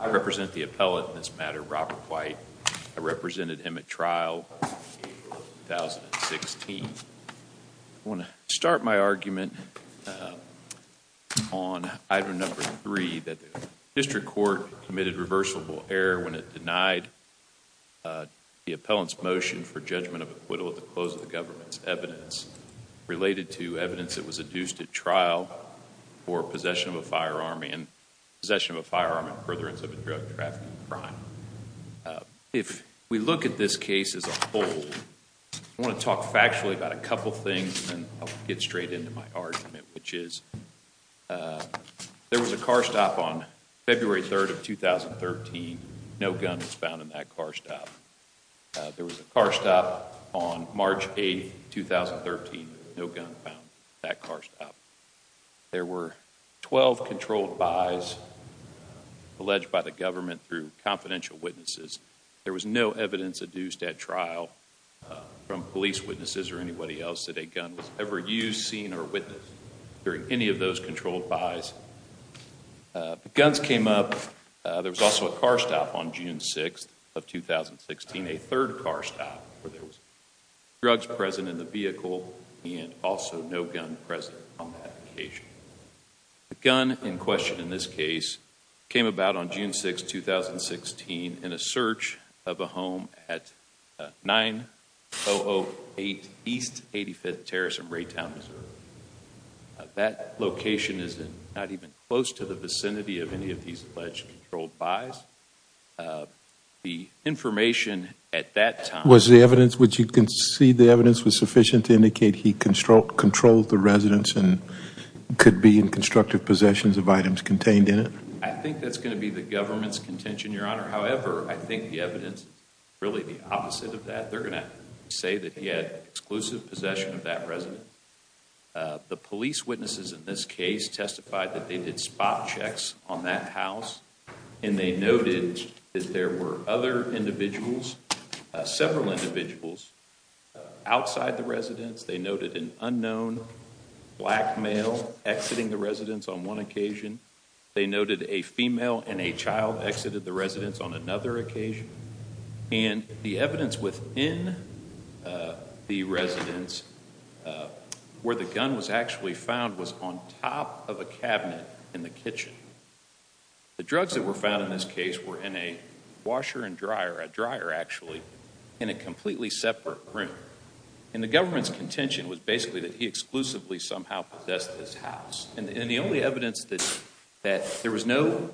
I represent the appellate in this matter, Robert White. I represented him at trial in April of 2016. I want to start my argument on item number three, that the district court committed reversible error when it denied the appellant's motion for judgment of acquittal at the close of the government's evidence related to evidence that was adduced at trial for possession of a firearm and possession of a firearm in furtherance of a drug trafficking crime. If we look at this case as a whole, I want to talk factually about a couple things and then I'll get straight into my argument, which is there was a car stop on February 3rd of 2013. No gun was found in that car stop. There was a car stop on March 8th, 2013. No gun found at that car stop. There were 12 controlled buys alleged by the government through confidential witnesses. There was no evidence adduced at trial from police witnesses or anybody else that a gun was ever used, seen, or witnessed during any of those controlled buys. Guns came up. There was also a car stop on June 6th of 2016, a third car stop where there was drugs present in the vehicle and also no gun present on that occasion. A gun in question in this case came about on June 6th, 2016 in a search of a home at 9008 East 85th Terrace in Raytown, Missouri. That location is not even close to the vicinity of any of these alleged controlled buys. The information at that time... Was the evidence which you concede the evidence was sufficient to indicate he controlled the residence and could be in constructive possessions of items contained in it? I think that's going to be the government's contention, Your Honor. However, I think the evidence is really the opposite of that. They're going to say that he had exclusive possession of that residence. The police witnesses in this case testified that they did spot checks on that house and they noted that there were other individuals, several individuals outside the residence. They noted an unknown black male exiting the residence on one occasion. They noted a female and a child exited the residence on another occasion. And the evidence within the residence where the gun was actually found was on top of a cabinet in the kitchen. The drugs that were found in this case were in a washer and dryer, a dryer actually, in a completely separate room. And the government's contention was basically that he exclusively somehow possessed this house. And the only evidence that there was no,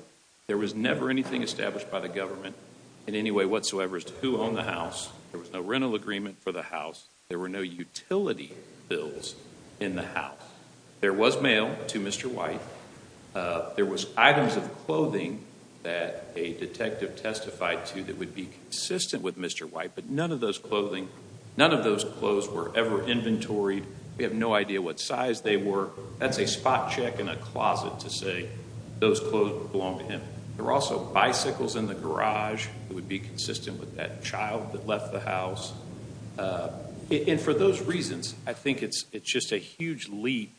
there was never anything established by the government in any way whatsoever as to who owned the house. There was no rental agreement for the house. There were no utility bills in the house. There was mail to Mr. White. There was items of clothing that a detective testified to that would be consistent with Mr. White. But none of those clothing, none of those clothes were ever inventoried. We have no idea what size they were. That's a spot check in a closet to say those clothes belonged to him. There were also bicycles in the garage that would be consistent with that child that left the house. And for those reasons, I think it's just a huge leap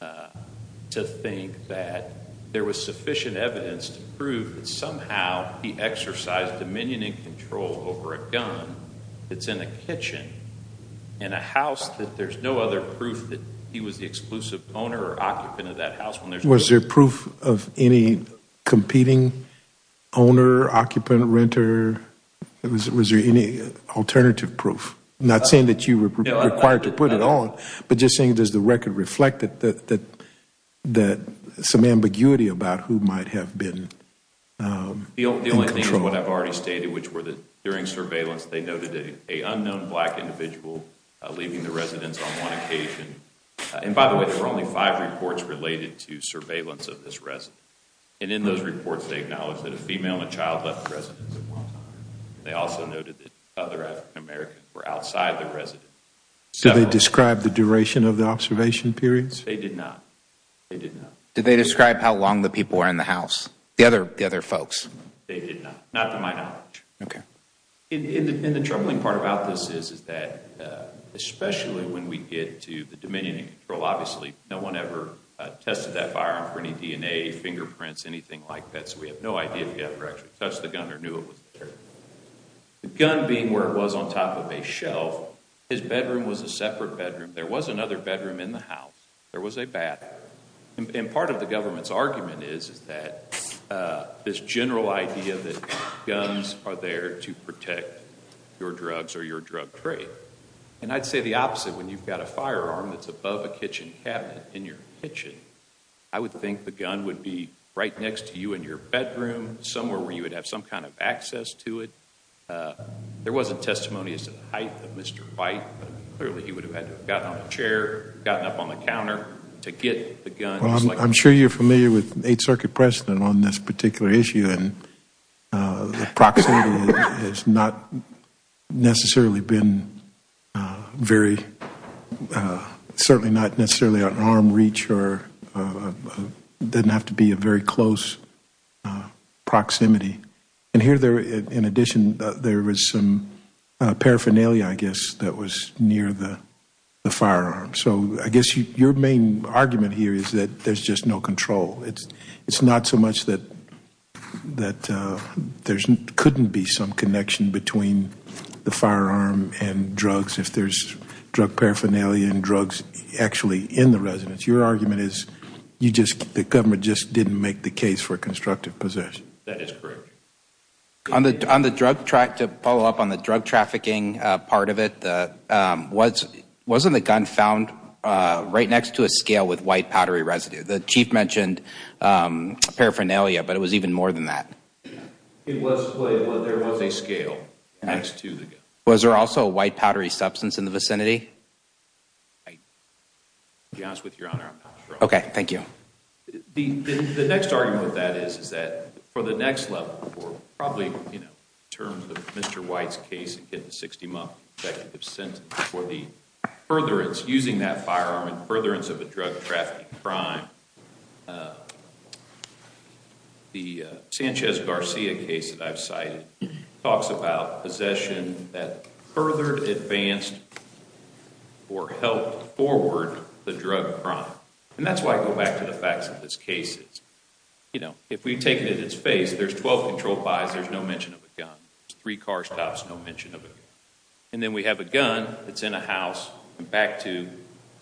to think that there was sufficient evidence to prove that somehow he exercised dominion and control over a gun that's in a kitchen in a house that there's no other proof that he was the exclusive owner or occupant of that house. Was there proof of any competing owner, occupant, renter? Was there any alternative proof? Not saying that you were required to put it on, but just saying does the record reflect some ambiguity about who might have been in control? The only thing is what I've already stated, which was that during surveillance, they noted an unknown black individual leaving the residence on one occasion. And by the way, there were only five reports related to surveillance of this resident. And in those reports, they acknowledged that a female and a child left the residence at one time. They also noted that other African Americans were outside the residence. Did they describe the duration of the observation periods? They did not. They did not. Did they describe how long the people were in the house, the other folks? They did not, not to my knowledge. And the troubling part about this is that especially when we get to the dominion of control, obviously no one ever tested that firearm for any DNA, fingerprints, anything like that, so we have no idea if he ever actually touched the gun or knew it was there. The gun being where it was on top of a shelf, his bedroom was a separate bedroom. There was another bedroom in the house. There was a bathroom. And part of the government's argument is that this general idea that guns are there to protect your drugs or your drug trade. And I'd say the opposite. When you've got a firearm that's above a kitchen cabinet in your kitchen, I would think the gun would be right next to you in your bedroom, somewhere where you would have some kind of access to it. There wasn't testimony as to the height of Mr. White, but clearly he would have had to have gotten on a chair, gotten up on the counter to get the gun. I'm sure you're familiar with Eighth Circuit precedent on this particular issue, and the proximity has not necessarily been very, certainly not necessarily at arm's reach or didn't have to be a very close proximity. And here, in addition, there was some paraphernalia, I guess, that was near the firearm. So I guess your main argument here is that there's just no control. It's not so much that there couldn't be some connection between the firearm and drugs if there's drug paraphernalia and drugs actually in the residence. Your argument is the government just didn't make the case for constructive possession. That is correct. To follow up on the drug trafficking part of it, wasn't the gun found right next to a scale with white powdery residue? The Chief mentioned paraphernalia, but it was even more than that. There was a scale next to the gun. Was there also a white powdery substance in the vicinity? To be honest with you, Your Honor, I'm not sure. Okay, thank you. The next argument with that is that for the next level, probably in terms of Mr. White's case against the 60-month executive sentence for the furtherance, using that firearm in furtherance of a drug trafficking crime, the Sanchez-Garcia case that I've cited talks about possession that furthered, advanced, or helped forward the drug crime. And that's why I go back to the facts of this case. If we take it at its face, there's 12 controlled buys, there's no mention of a gun. There's three car stops, no mention of a gun. And then we have a gun that's in a house and back to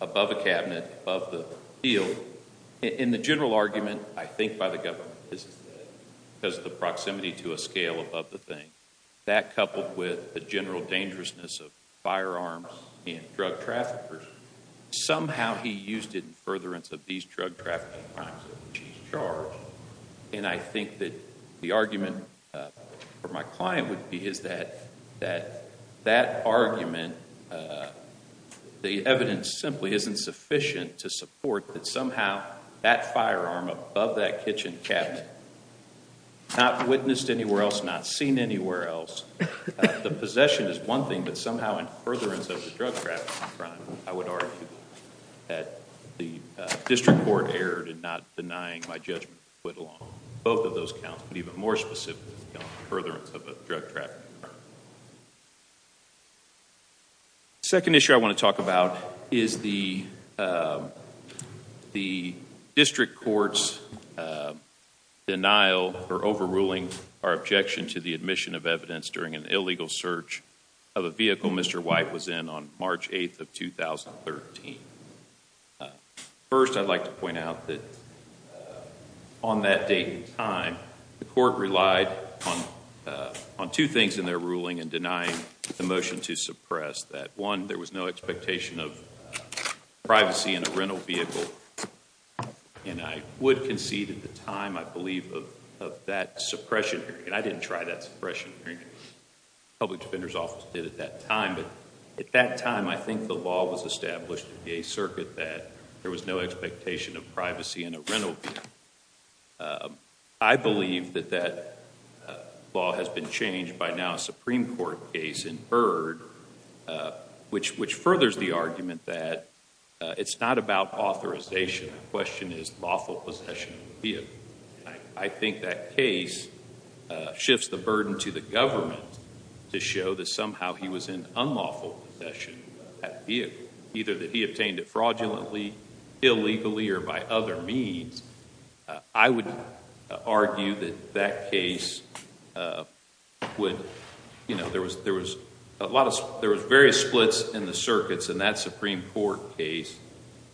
above a cabinet, above the field. In the general argument, I think by the government, is that because of the proximity to a scale above the thing, that coupled with the general dangerousness of firearms and drug traffickers, somehow he used it in furtherance of these drug trafficking crimes that he's charged. And I think that the argument for my client would be is that that argument, the evidence simply isn't sufficient to support that somehow that firearm above that kitchen cabinet, not witnessed anywhere else, not seen anywhere else, the possession is one thing, but somehow in furtherance of the drug trafficking crime, I would argue that the district court erred in not denying my judgment to put along both of those counts, but even more specifically, in furtherance of a drug trafficking crime. The second issue I want to talk about is the district court's denial or overruling our objection to the admission of evidence during an illegal search of a vehicle Mr. White was in on March 8th of 2013. First, I'd like to point out that on that date and time, the court relied on two things in their ruling in denying the motion to suppress that. One, there was no expectation of privacy in a rental vehicle, and I would concede at the time I believe of that suppression hearing, and I didn't try that suppression hearing. The public defender's office did at that time, but at that time I think the law was established in the A circuit that there was no expectation of privacy in a rental vehicle. I believe that that law has been changed by now a Supreme Court case in Byrd, which furthers the argument that it's not about authorization. The question is lawful possession of the vehicle. I think that case shifts the burden to the government to show that somehow he was in unlawful possession of that vehicle, either that he obtained it fraudulently, illegally, or by other means. I would argue that that case would... There was various splits in the circuits, and that Supreme Court case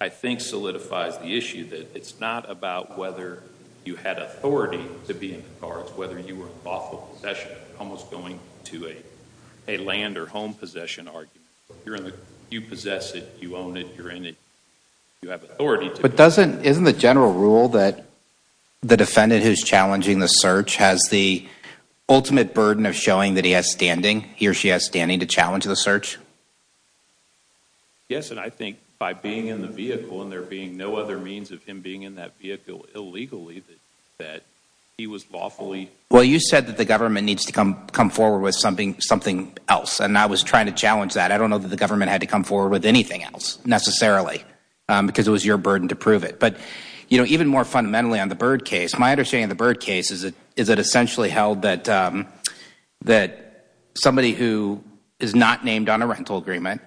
I think solidifies the issue that it's not about whether you had authority to be in the car. It's whether you were in lawful possession, almost going to a land or home possession argument. You possess it. You own it. You're in it. You have authority to... But isn't the general rule that the defendant who's challenging the search has the ultimate burden of showing that he has standing, he or she has standing to challenge the search? Yes, and I think by being in the vehicle and there being no other means of him being in that vehicle illegally, that he was lawfully... Well, you said that the government needs to come forward with something else, and I was trying to challenge that. I don't know that the government had to come forward with anything else necessarily because it was your burden to prove it. But even more fundamentally on the Byrd case, my understanding of the Byrd case is that it essentially held that somebody who is not named on a rental agreement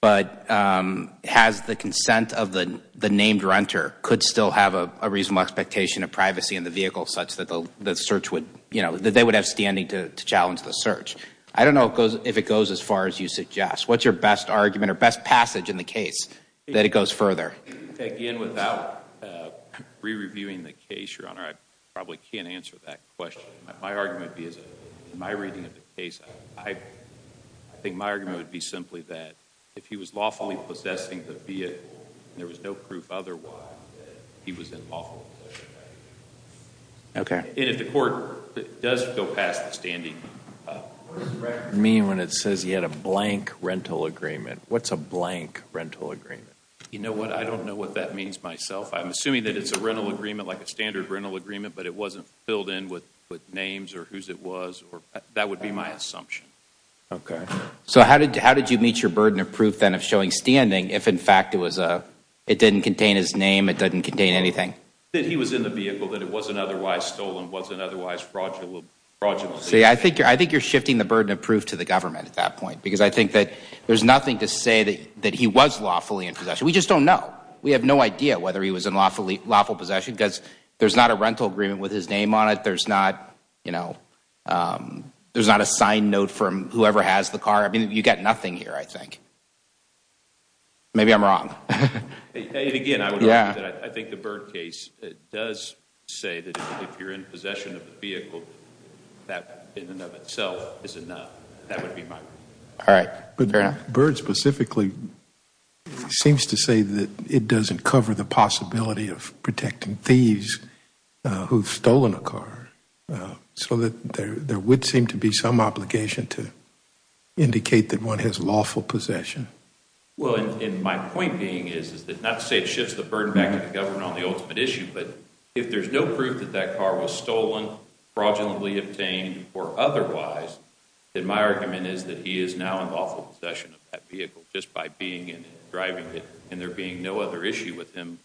but has the consent of the named renter could still have a reasonable expectation of privacy in the vehicle such that the search would... that they would have standing to challenge the search. I don't know if it goes as far as you suggest. What's your best argument or best passage in the case that it goes further? Again, without re-reviewing the case, Your Honor, I probably can't answer that question. My argument would be, in my reading of the case, I think my argument would be simply that if he was lawfully possessing the vehicle and there was no proof otherwise, that he was in lawful possession of that vehicle. Okay. And if the court does go past the standing... What does it mean when it says he had a blank rental agreement? What's a blank rental agreement? You know what, I don't know what that means myself. I'm assuming that it's a rental agreement, like a standard rental agreement, but it wasn't filled in with names or whose it was. That would be my assumption. Okay. So how did you meet your burden of proof then of showing standing if, in fact, it didn't contain his name, it didn't contain anything? wasn't otherwise fraudulently... See, I think you're shifting the burden of proof to the government at that point because I think that there's nothing to say that he was lawfully in possession. We just don't know. We have no idea whether he was in lawful possession because there's not a rental agreement with his name on it. There's not a signed note from whoever has the car. I mean, you've got nothing here, I think. Maybe I'm wrong. And again, I think the Byrd case does say that if you're in possession of the vehicle, that in and of itself is enough. That would be my... All right. Fair enough. But Byrd specifically seems to say that it doesn't cover the possibility of protecting thieves who've stolen a car. So there would seem to be some obligation to indicate that one has lawful possession. Well, and my point being is not to say it shifts the burden back to the government on the ultimate issue, but if there's no proof that that car was stolen, fraudulently obtained, or otherwise, then my argument is that he is now in lawful possession of that vehicle just by being in it, driving it, and there being no other issue with him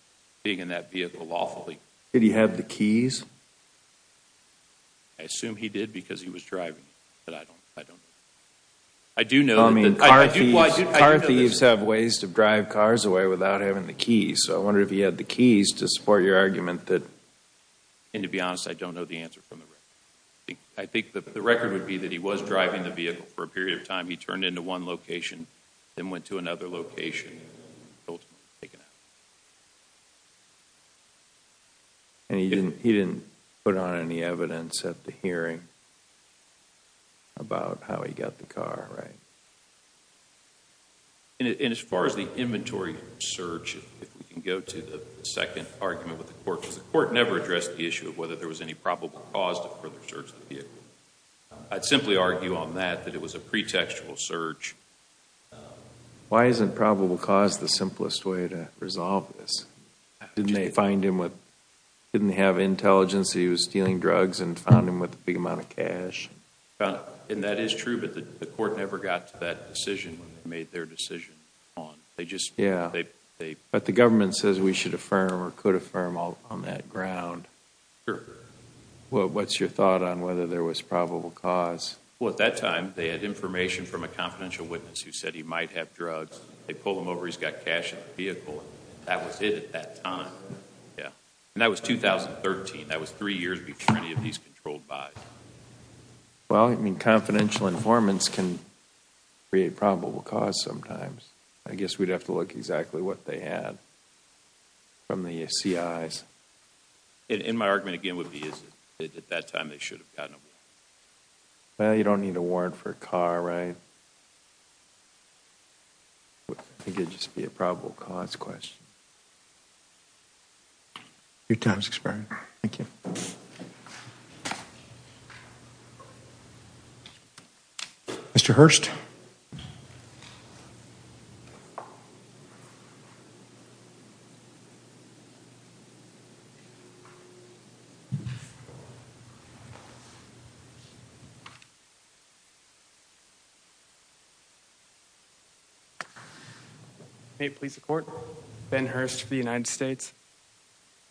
being in that vehicle lawfully. Did he have the keys? I assume he did because he was driving it, but I don't know. I do know that... I mean, car thieves have ways to drive cars away without having the keys, so I wonder if he had the keys to support your argument that... And to be honest, I don't know the answer from the record. I think the record would be that he was driving the vehicle for a period of time, he turned into one location, then went to another location, ultimately taken out. And he didn't put on any evidence at the hearing about how he got the car, right? And as far as the inventory search, if we can go to the second argument with the court, because the court never addressed the issue of whether there was any probable cause to further search the vehicle. I'd simply argue on that that it was a pretextual search. Why isn't probable cause the simplest way to resolve this? Didn't they find him with... Didn't they have intelligence that he was stealing drugs and found him with a big amount of cash? And that is true, but the court never got to that decision when they made their decision. But the government says we should affirm or could affirm on that ground. What's your thought on whether there was probable cause? Well, at that time, they had information from a confidential witness who said he might have drugs. They pull him over, he's got cash in the vehicle. That was it at that time. And that was 2013. That was three years before any of these controlled buys. Well, I mean, confidential informants can create probable cause sometimes. I guess we'd have to look exactly what they had from the CIs. And my argument again would be is that at that time they should have gotten him. Well, you don't need a warrant for a car, right? I think it would just be a probable cause question. Your time has expired. Thank you. Mr. Hurst? May it please the court? Ben Hurst for the United States.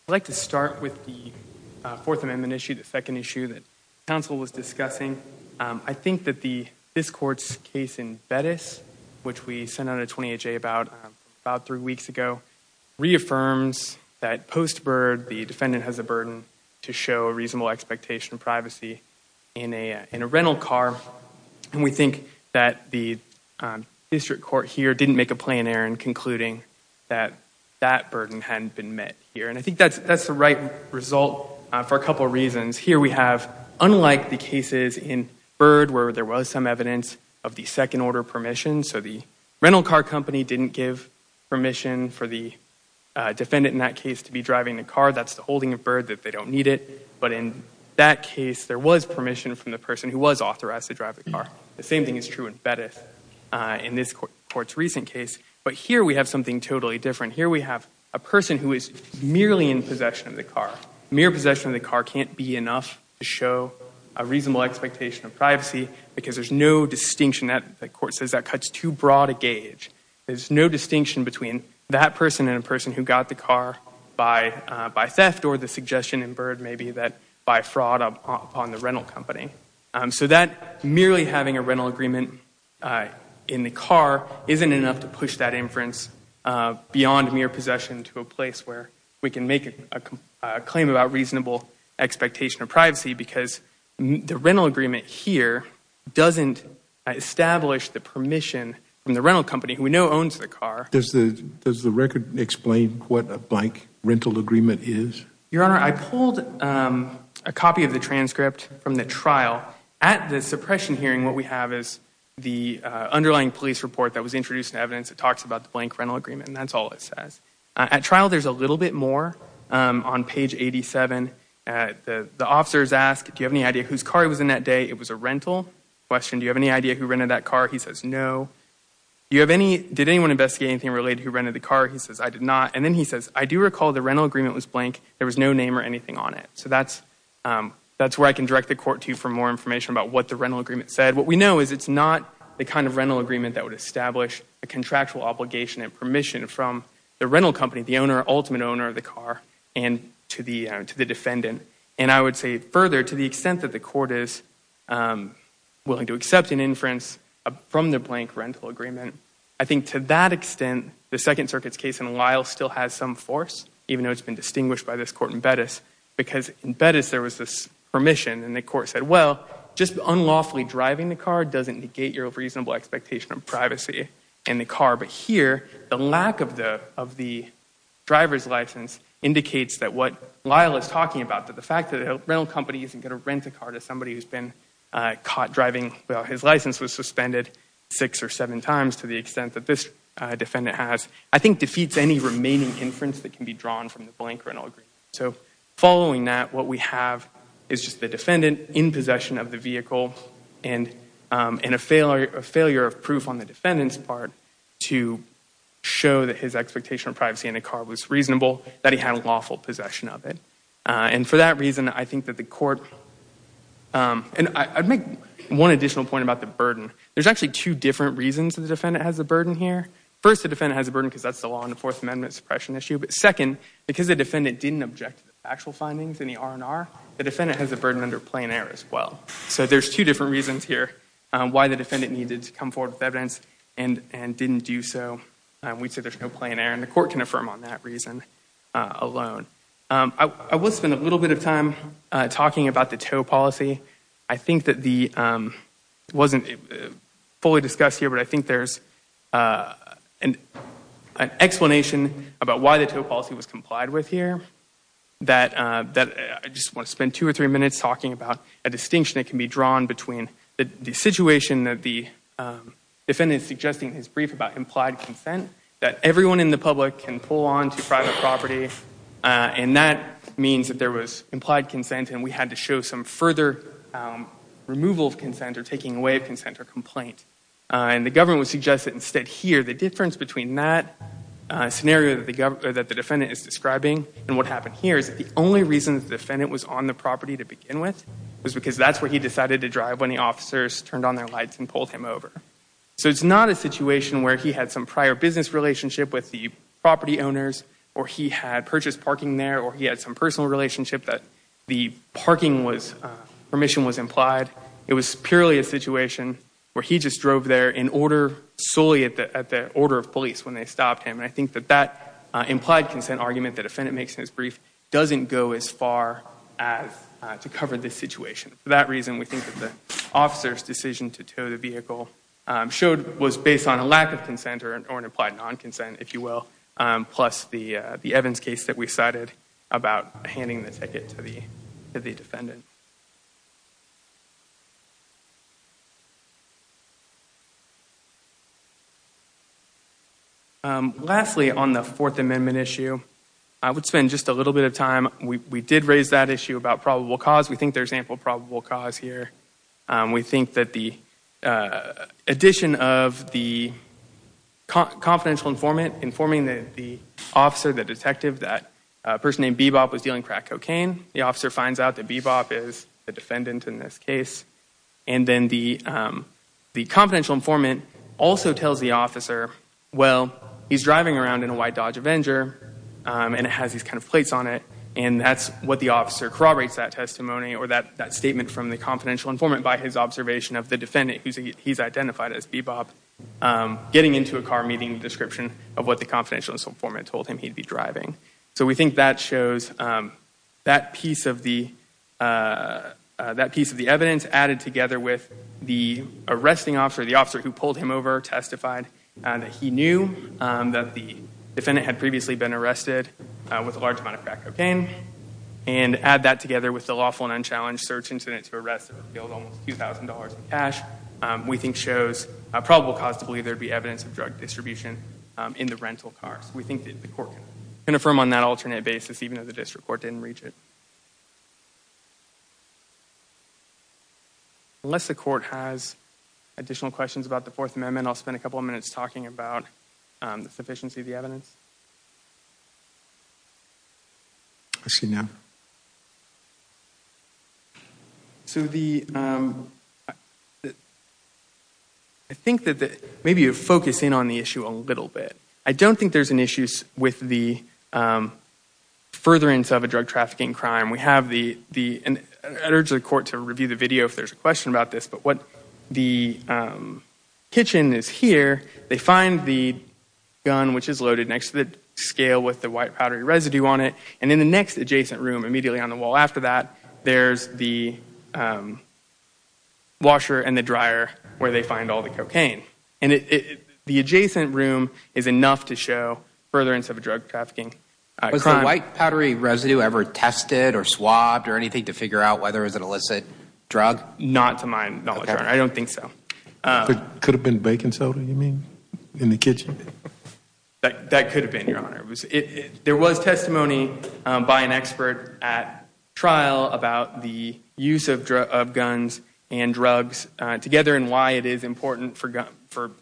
I'd like to start with the Fourth Amendment issue, the second issue that counsel was discussing. I think that this court's case in Bettis, which we sent out a 20HA about three weeks ago, reaffirms that post-bird the defendant has a burden to show a reasonable expectation of privacy in a rental car. And we think that the district court here didn't make a plan error in concluding that that burden hadn't been met here. And I think that's the right result for a couple of reasons. Here we have, unlike the cases in Bird where there was some evidence of the second order permission, so the rental car company didn't give permission for the defendant in that case to be driving the car, that's the holding of Bird, that they don't need it. But in that case, there was permission from the person who was authorized to drive the car. The same thing is true in Bettis in this court's recent case. But here we have something totally different. Here we have a person who is merely in possession of the car. Mere possession of the car can't be enough to show a reasonable expectation of privacy because there's no distinction that the court says that cuts too broad a gauge. There's no distinction between that person and a person who got the car by theft or the suggestion in Bird maybe that by fraud upon the rental company. So that merely having a rental agreement in the car isn't enough to push that inference beyond mere possession to a place where we can make a claim about reasonable expectation of privacy because the rental agreement here doesn't establish the permission from the rental company who we know owns the car. Does the record explain what a blank rental agreement is? Your Honor, I pulled a copy of the transcript from the trial. At the suppression hearing, what we have is the underlying police report that was introduced in evidence that talks about the blank rental agreement, and that's all it says. At trial, there's a little bit more. On page 87, the officers ask, do you have any idea whose car was in that day? It was a rental question. Do you have any idea who rented that car? He says, no. Do you have any, did anyone investigate anything related to who rented the car? He says, I did not. And then he says, I do recall the rental agreement was blank. There was no name or anything on it. So that's where I can direct the court to for more information about what the rental agreement said. What we know is it's not the kind of rental agreement that would establish a contractual obligation and permission from the rental company, the ultimate owner of the car, and to the defendant. And I would say further, to the extent that the court is willing to accept an inference from the blank rental agreement, I think to that extent, the Second Circuit's case in Lyle still has some force, even though it's been distinguished by this court in Bettis, because in Bettis there was this permission, and the court said, well, just unlawfully driving the car doesn't negate your reasonable expectation of privacy in the car. But here, the lack of the driver's license indicates that what Lyle is talking about, that the fact that a rental company isn't going to rent a car to somebody who's been caught driving, well, his license was suspended six or seven times to the extent that this defendant has, I think defeats any remaining inference that can be drawn from the blank rental agreement. So following that, what we have is just the defendant in possession of the vehicle and a failure of proof on the defendant's part to show that his expectation of privacy in the car was reasonable, that he had lawful possession of it. And for that reason, I think that the court, and I'd make one additional point about the burden. There's actually two different reasons the defendant has a burden here. First, the defendant has a burden because that's the law in the Fourth Amendment suppression issue. But second, because the defendant didn't object to the factual findings in the R&R, the defendant has a burden under plain error as well. So there's two different reasons here why the defendant needed to come forward with evidence and didn't do so. We'd say there's no plain error, and the court can affirm on that reason alone. I will spend a little bit of time talking about the tow policy. I think that the—it wasn't fully discussed here, but I think there's an explanation about why the tow policy was complied with here that I just want to spend two or three minutes talking about a distinction that can be drawn between the situation that the defendant is suggesting in his brief about implied consent, that everyone in the public can pull on to private property, and that means that there was implied consent and we had to show some further removal of consent or taking away of consent or complaint. And the government would suggest that instead here, the difference between that scenario that the defendant is describing and what happened here is that the only reason the defendant was on the property to begin with was because that's where he decided to drive when the officers turned on their lights and pulled him over. So it's not a situation where he had some prior business relationship with the property owners or he had purchased parking there or he had some personal relationship that the parking was—permission was implied. It was purely a situation where he just drove there in order—solely at the order of police when they stopped him. And I think that that implied consent argument that the defendant makes in his brief doesn't go as far as to cover this situation. For that reason, we think that the officer's decision to tow the vehicle was based on a lack of consent or an implied non-consent, if you will, plus the Evans case that we cited about handing the ticket to the defendant. Lastly, on the Fourth Amendment issue, I would spend just a little bit of time—we did raise that issue about probable cause. We think there's ample probable cause here. We think that the addition of the confidential informant informing the officer, the detective, that a person named Bebop was dealing crack cocaine, the officer finds out that Bebop is the defendant in this case, and then the confidential informant also tells the officer, well, he's driving around in a white Dodge Avenger and it has these kind of plates on it, and that's what the officer corroborates that testimony or that statement from the confidential informant by his observation of the defendant, who he's identified as Bebop, getting into a car meeting description of what the confidential informant told him he'd be driving. So we think that shows that piece of the evidence added together with the arresting officer, the officer who pulled him over, testified that he knew that the defendant had previously been arrested with a large amount of crack cocaine, and add that together with the lawful and unchallenged search incident to arrest him, it would yield almost $2,000 in cash, we think shows probable cause to believe there'd be evidence of drug distribution in the rental car. So we think that the court can affirm on that alternate basis, even though the district court didn't reach it. Unless the court has additional questions about the Fourth Amendment, I'll spend a couple of minutes talking about the sufficiency of the evidence. I see none. So the, I think that maybe you're focusing on the issue a little bit. I don't think there's an issue with the furtherance of a drug trafficking crime. We have the, I'd urge the court to review the video if there's a question about this, but what the kitchen is here, they find the gun, which is loaded next to the scale with the white powdery residue on it, and in the next adjacent room, immediately on the wall after that, there's the washer and the dryer where they find all the cocaine. And the adjacent room is enough to show furtherance of a drug trafficking crime. Was the white powdery residue ever tested or swabbed or anything to figure out whether it was an illicit drug? Not to my knowledge, Your Honor. I don't think so. Could have been baking soda, you mean, in the kitchen? That could have been, Your Honor. There was testimony by an expert at trial about the use of guns and drugs together and why it is important for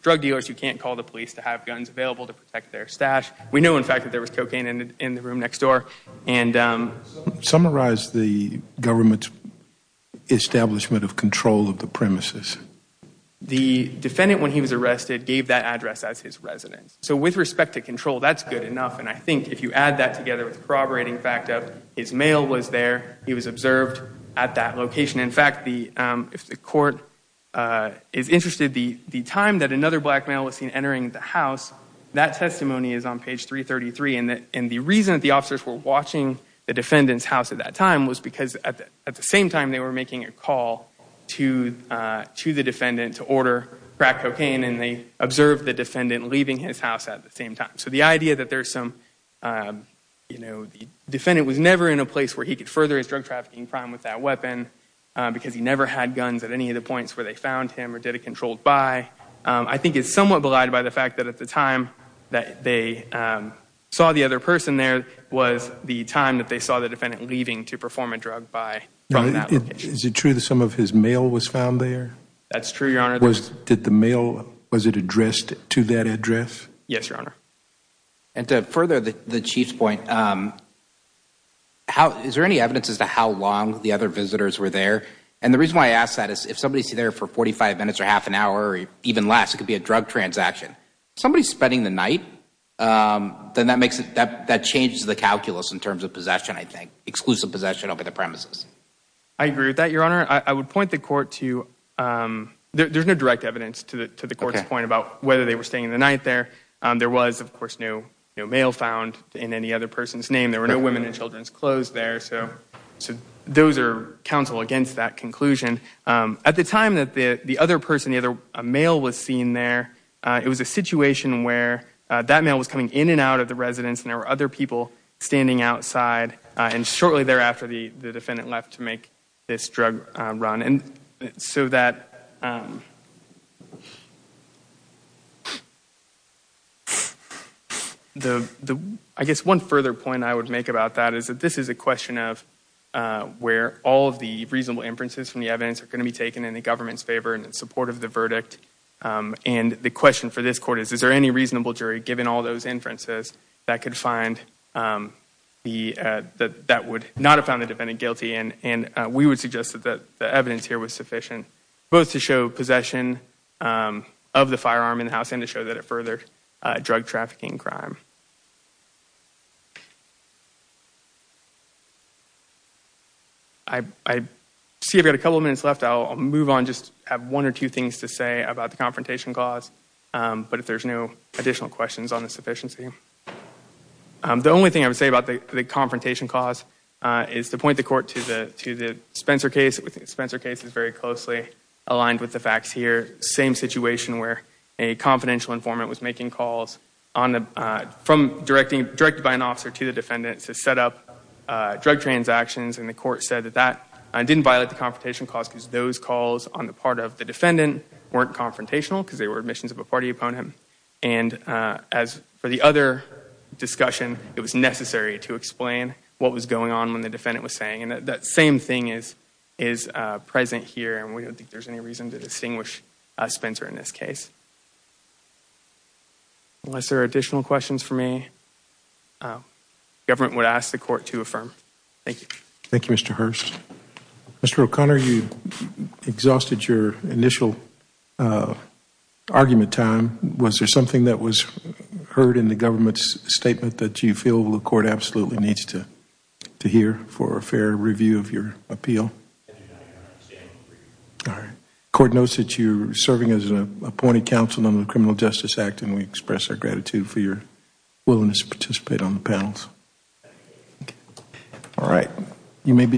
drug dealers who can't call the police to have guns available to protect their stash. We know, in fact, that there was cocaine in the room next door. Summarize the government's establishment of control of the premises. The defendant, when he was arrested, gave that address as his residence. So with respect to control, that's good enough. And I think if you add that together with the corroborating fact of his mail was there, he was observed at that location. In fact, if the court is interested, the time that another black male was seen entering the house, that testimony is on page 333. And the reason that the officers were watching the defendant's house at that time was because at the same time they were making a call to the defendant to order crack cocaine, and they observed the defendant leaving his house at the same time. So the idea that the defendant was never in a place where he could further his drug trafficking crime with that weapon because he never had guns at any of the points where they found him or did a controlled buy, I think is somewhat belied by the fact that at the time that they saw the other person there was the time that they saw the defendant leaving to perform a drug buy from that location. Is it true that some of his mail was found there? That's true, Your Honor. Did the mail, was it addressed to that address? Yes, Your Honor. And to further the Chief's point, is there any evidence as to how long the other visitors were there? And the reason why I ask that is if somebody's there for 45 minutes or half an hour or even less, it could be a drug transaction. If somebody's spending the night, then that changes the calculus in terms of possession, I think, exclusive possession over the premises. I agree with that, Your Honor. I would point the court to, there's no direct evidence to the court's point about whether they were staying the night there. There was, of course, no mail found in any other person's name. There were no women and children's clothes there. So those are counsel against that conclusion. At the time that the other person, the other mail was seen there, it was a situation where that mail was coming in and out of the residence and there were other people standing outside. And shortly thereafter, the defendant left to make this drug run. I guess one further point I would make about that is that this is a question of where all of the reasonable inferences from the evidence are going to be taken in the government's favor in support of the verdict. And the question for this court is, is there any reasonable jury, given all those inferences, that could find the, that would not have found the defendant guilty? And we would suggest that the evidence here was sufficient both to show possession of the firearm in the house and to show that it further drug trafficking crime. I see I've got a couple of minutes left. I'll move on, just have one or two things to say about the confrontation clause. But if there's no additional questions on the sufficiency. The only thing I would say about the confrontation clause is to point the court to the Spencer case. Spencer case is very closely aligned with the facts here. Same situation where a confidential informant was making calls on the, from directing, directed by an officer to the defendant to set up drug transactions. And the court said that that didn't violate the confrontation clause because those calls on the part of the defendant weren't confrontational because they were admissions of a party opponent. And as for the other discussion, it was necessary to explain what was going on when the defendant was saying. And that same thing is, is present here. And we don't think there's any reason to distinguish Spencer in this case. Unless there are additional questions for me, government would ask the court to affirm. Thank you. Thank you, Mr. Hurst. Mr. O'Connor, you exhausted your initial argument time. Was there something that was heard in the government's statement that you feel the court absolutely needs to hear for a fair review of your appeal? All right. Court notes that you're serving as an appointed counsel on the Criminal Justice Act and we express our gratitude for your willingness to participate on the panels. All right.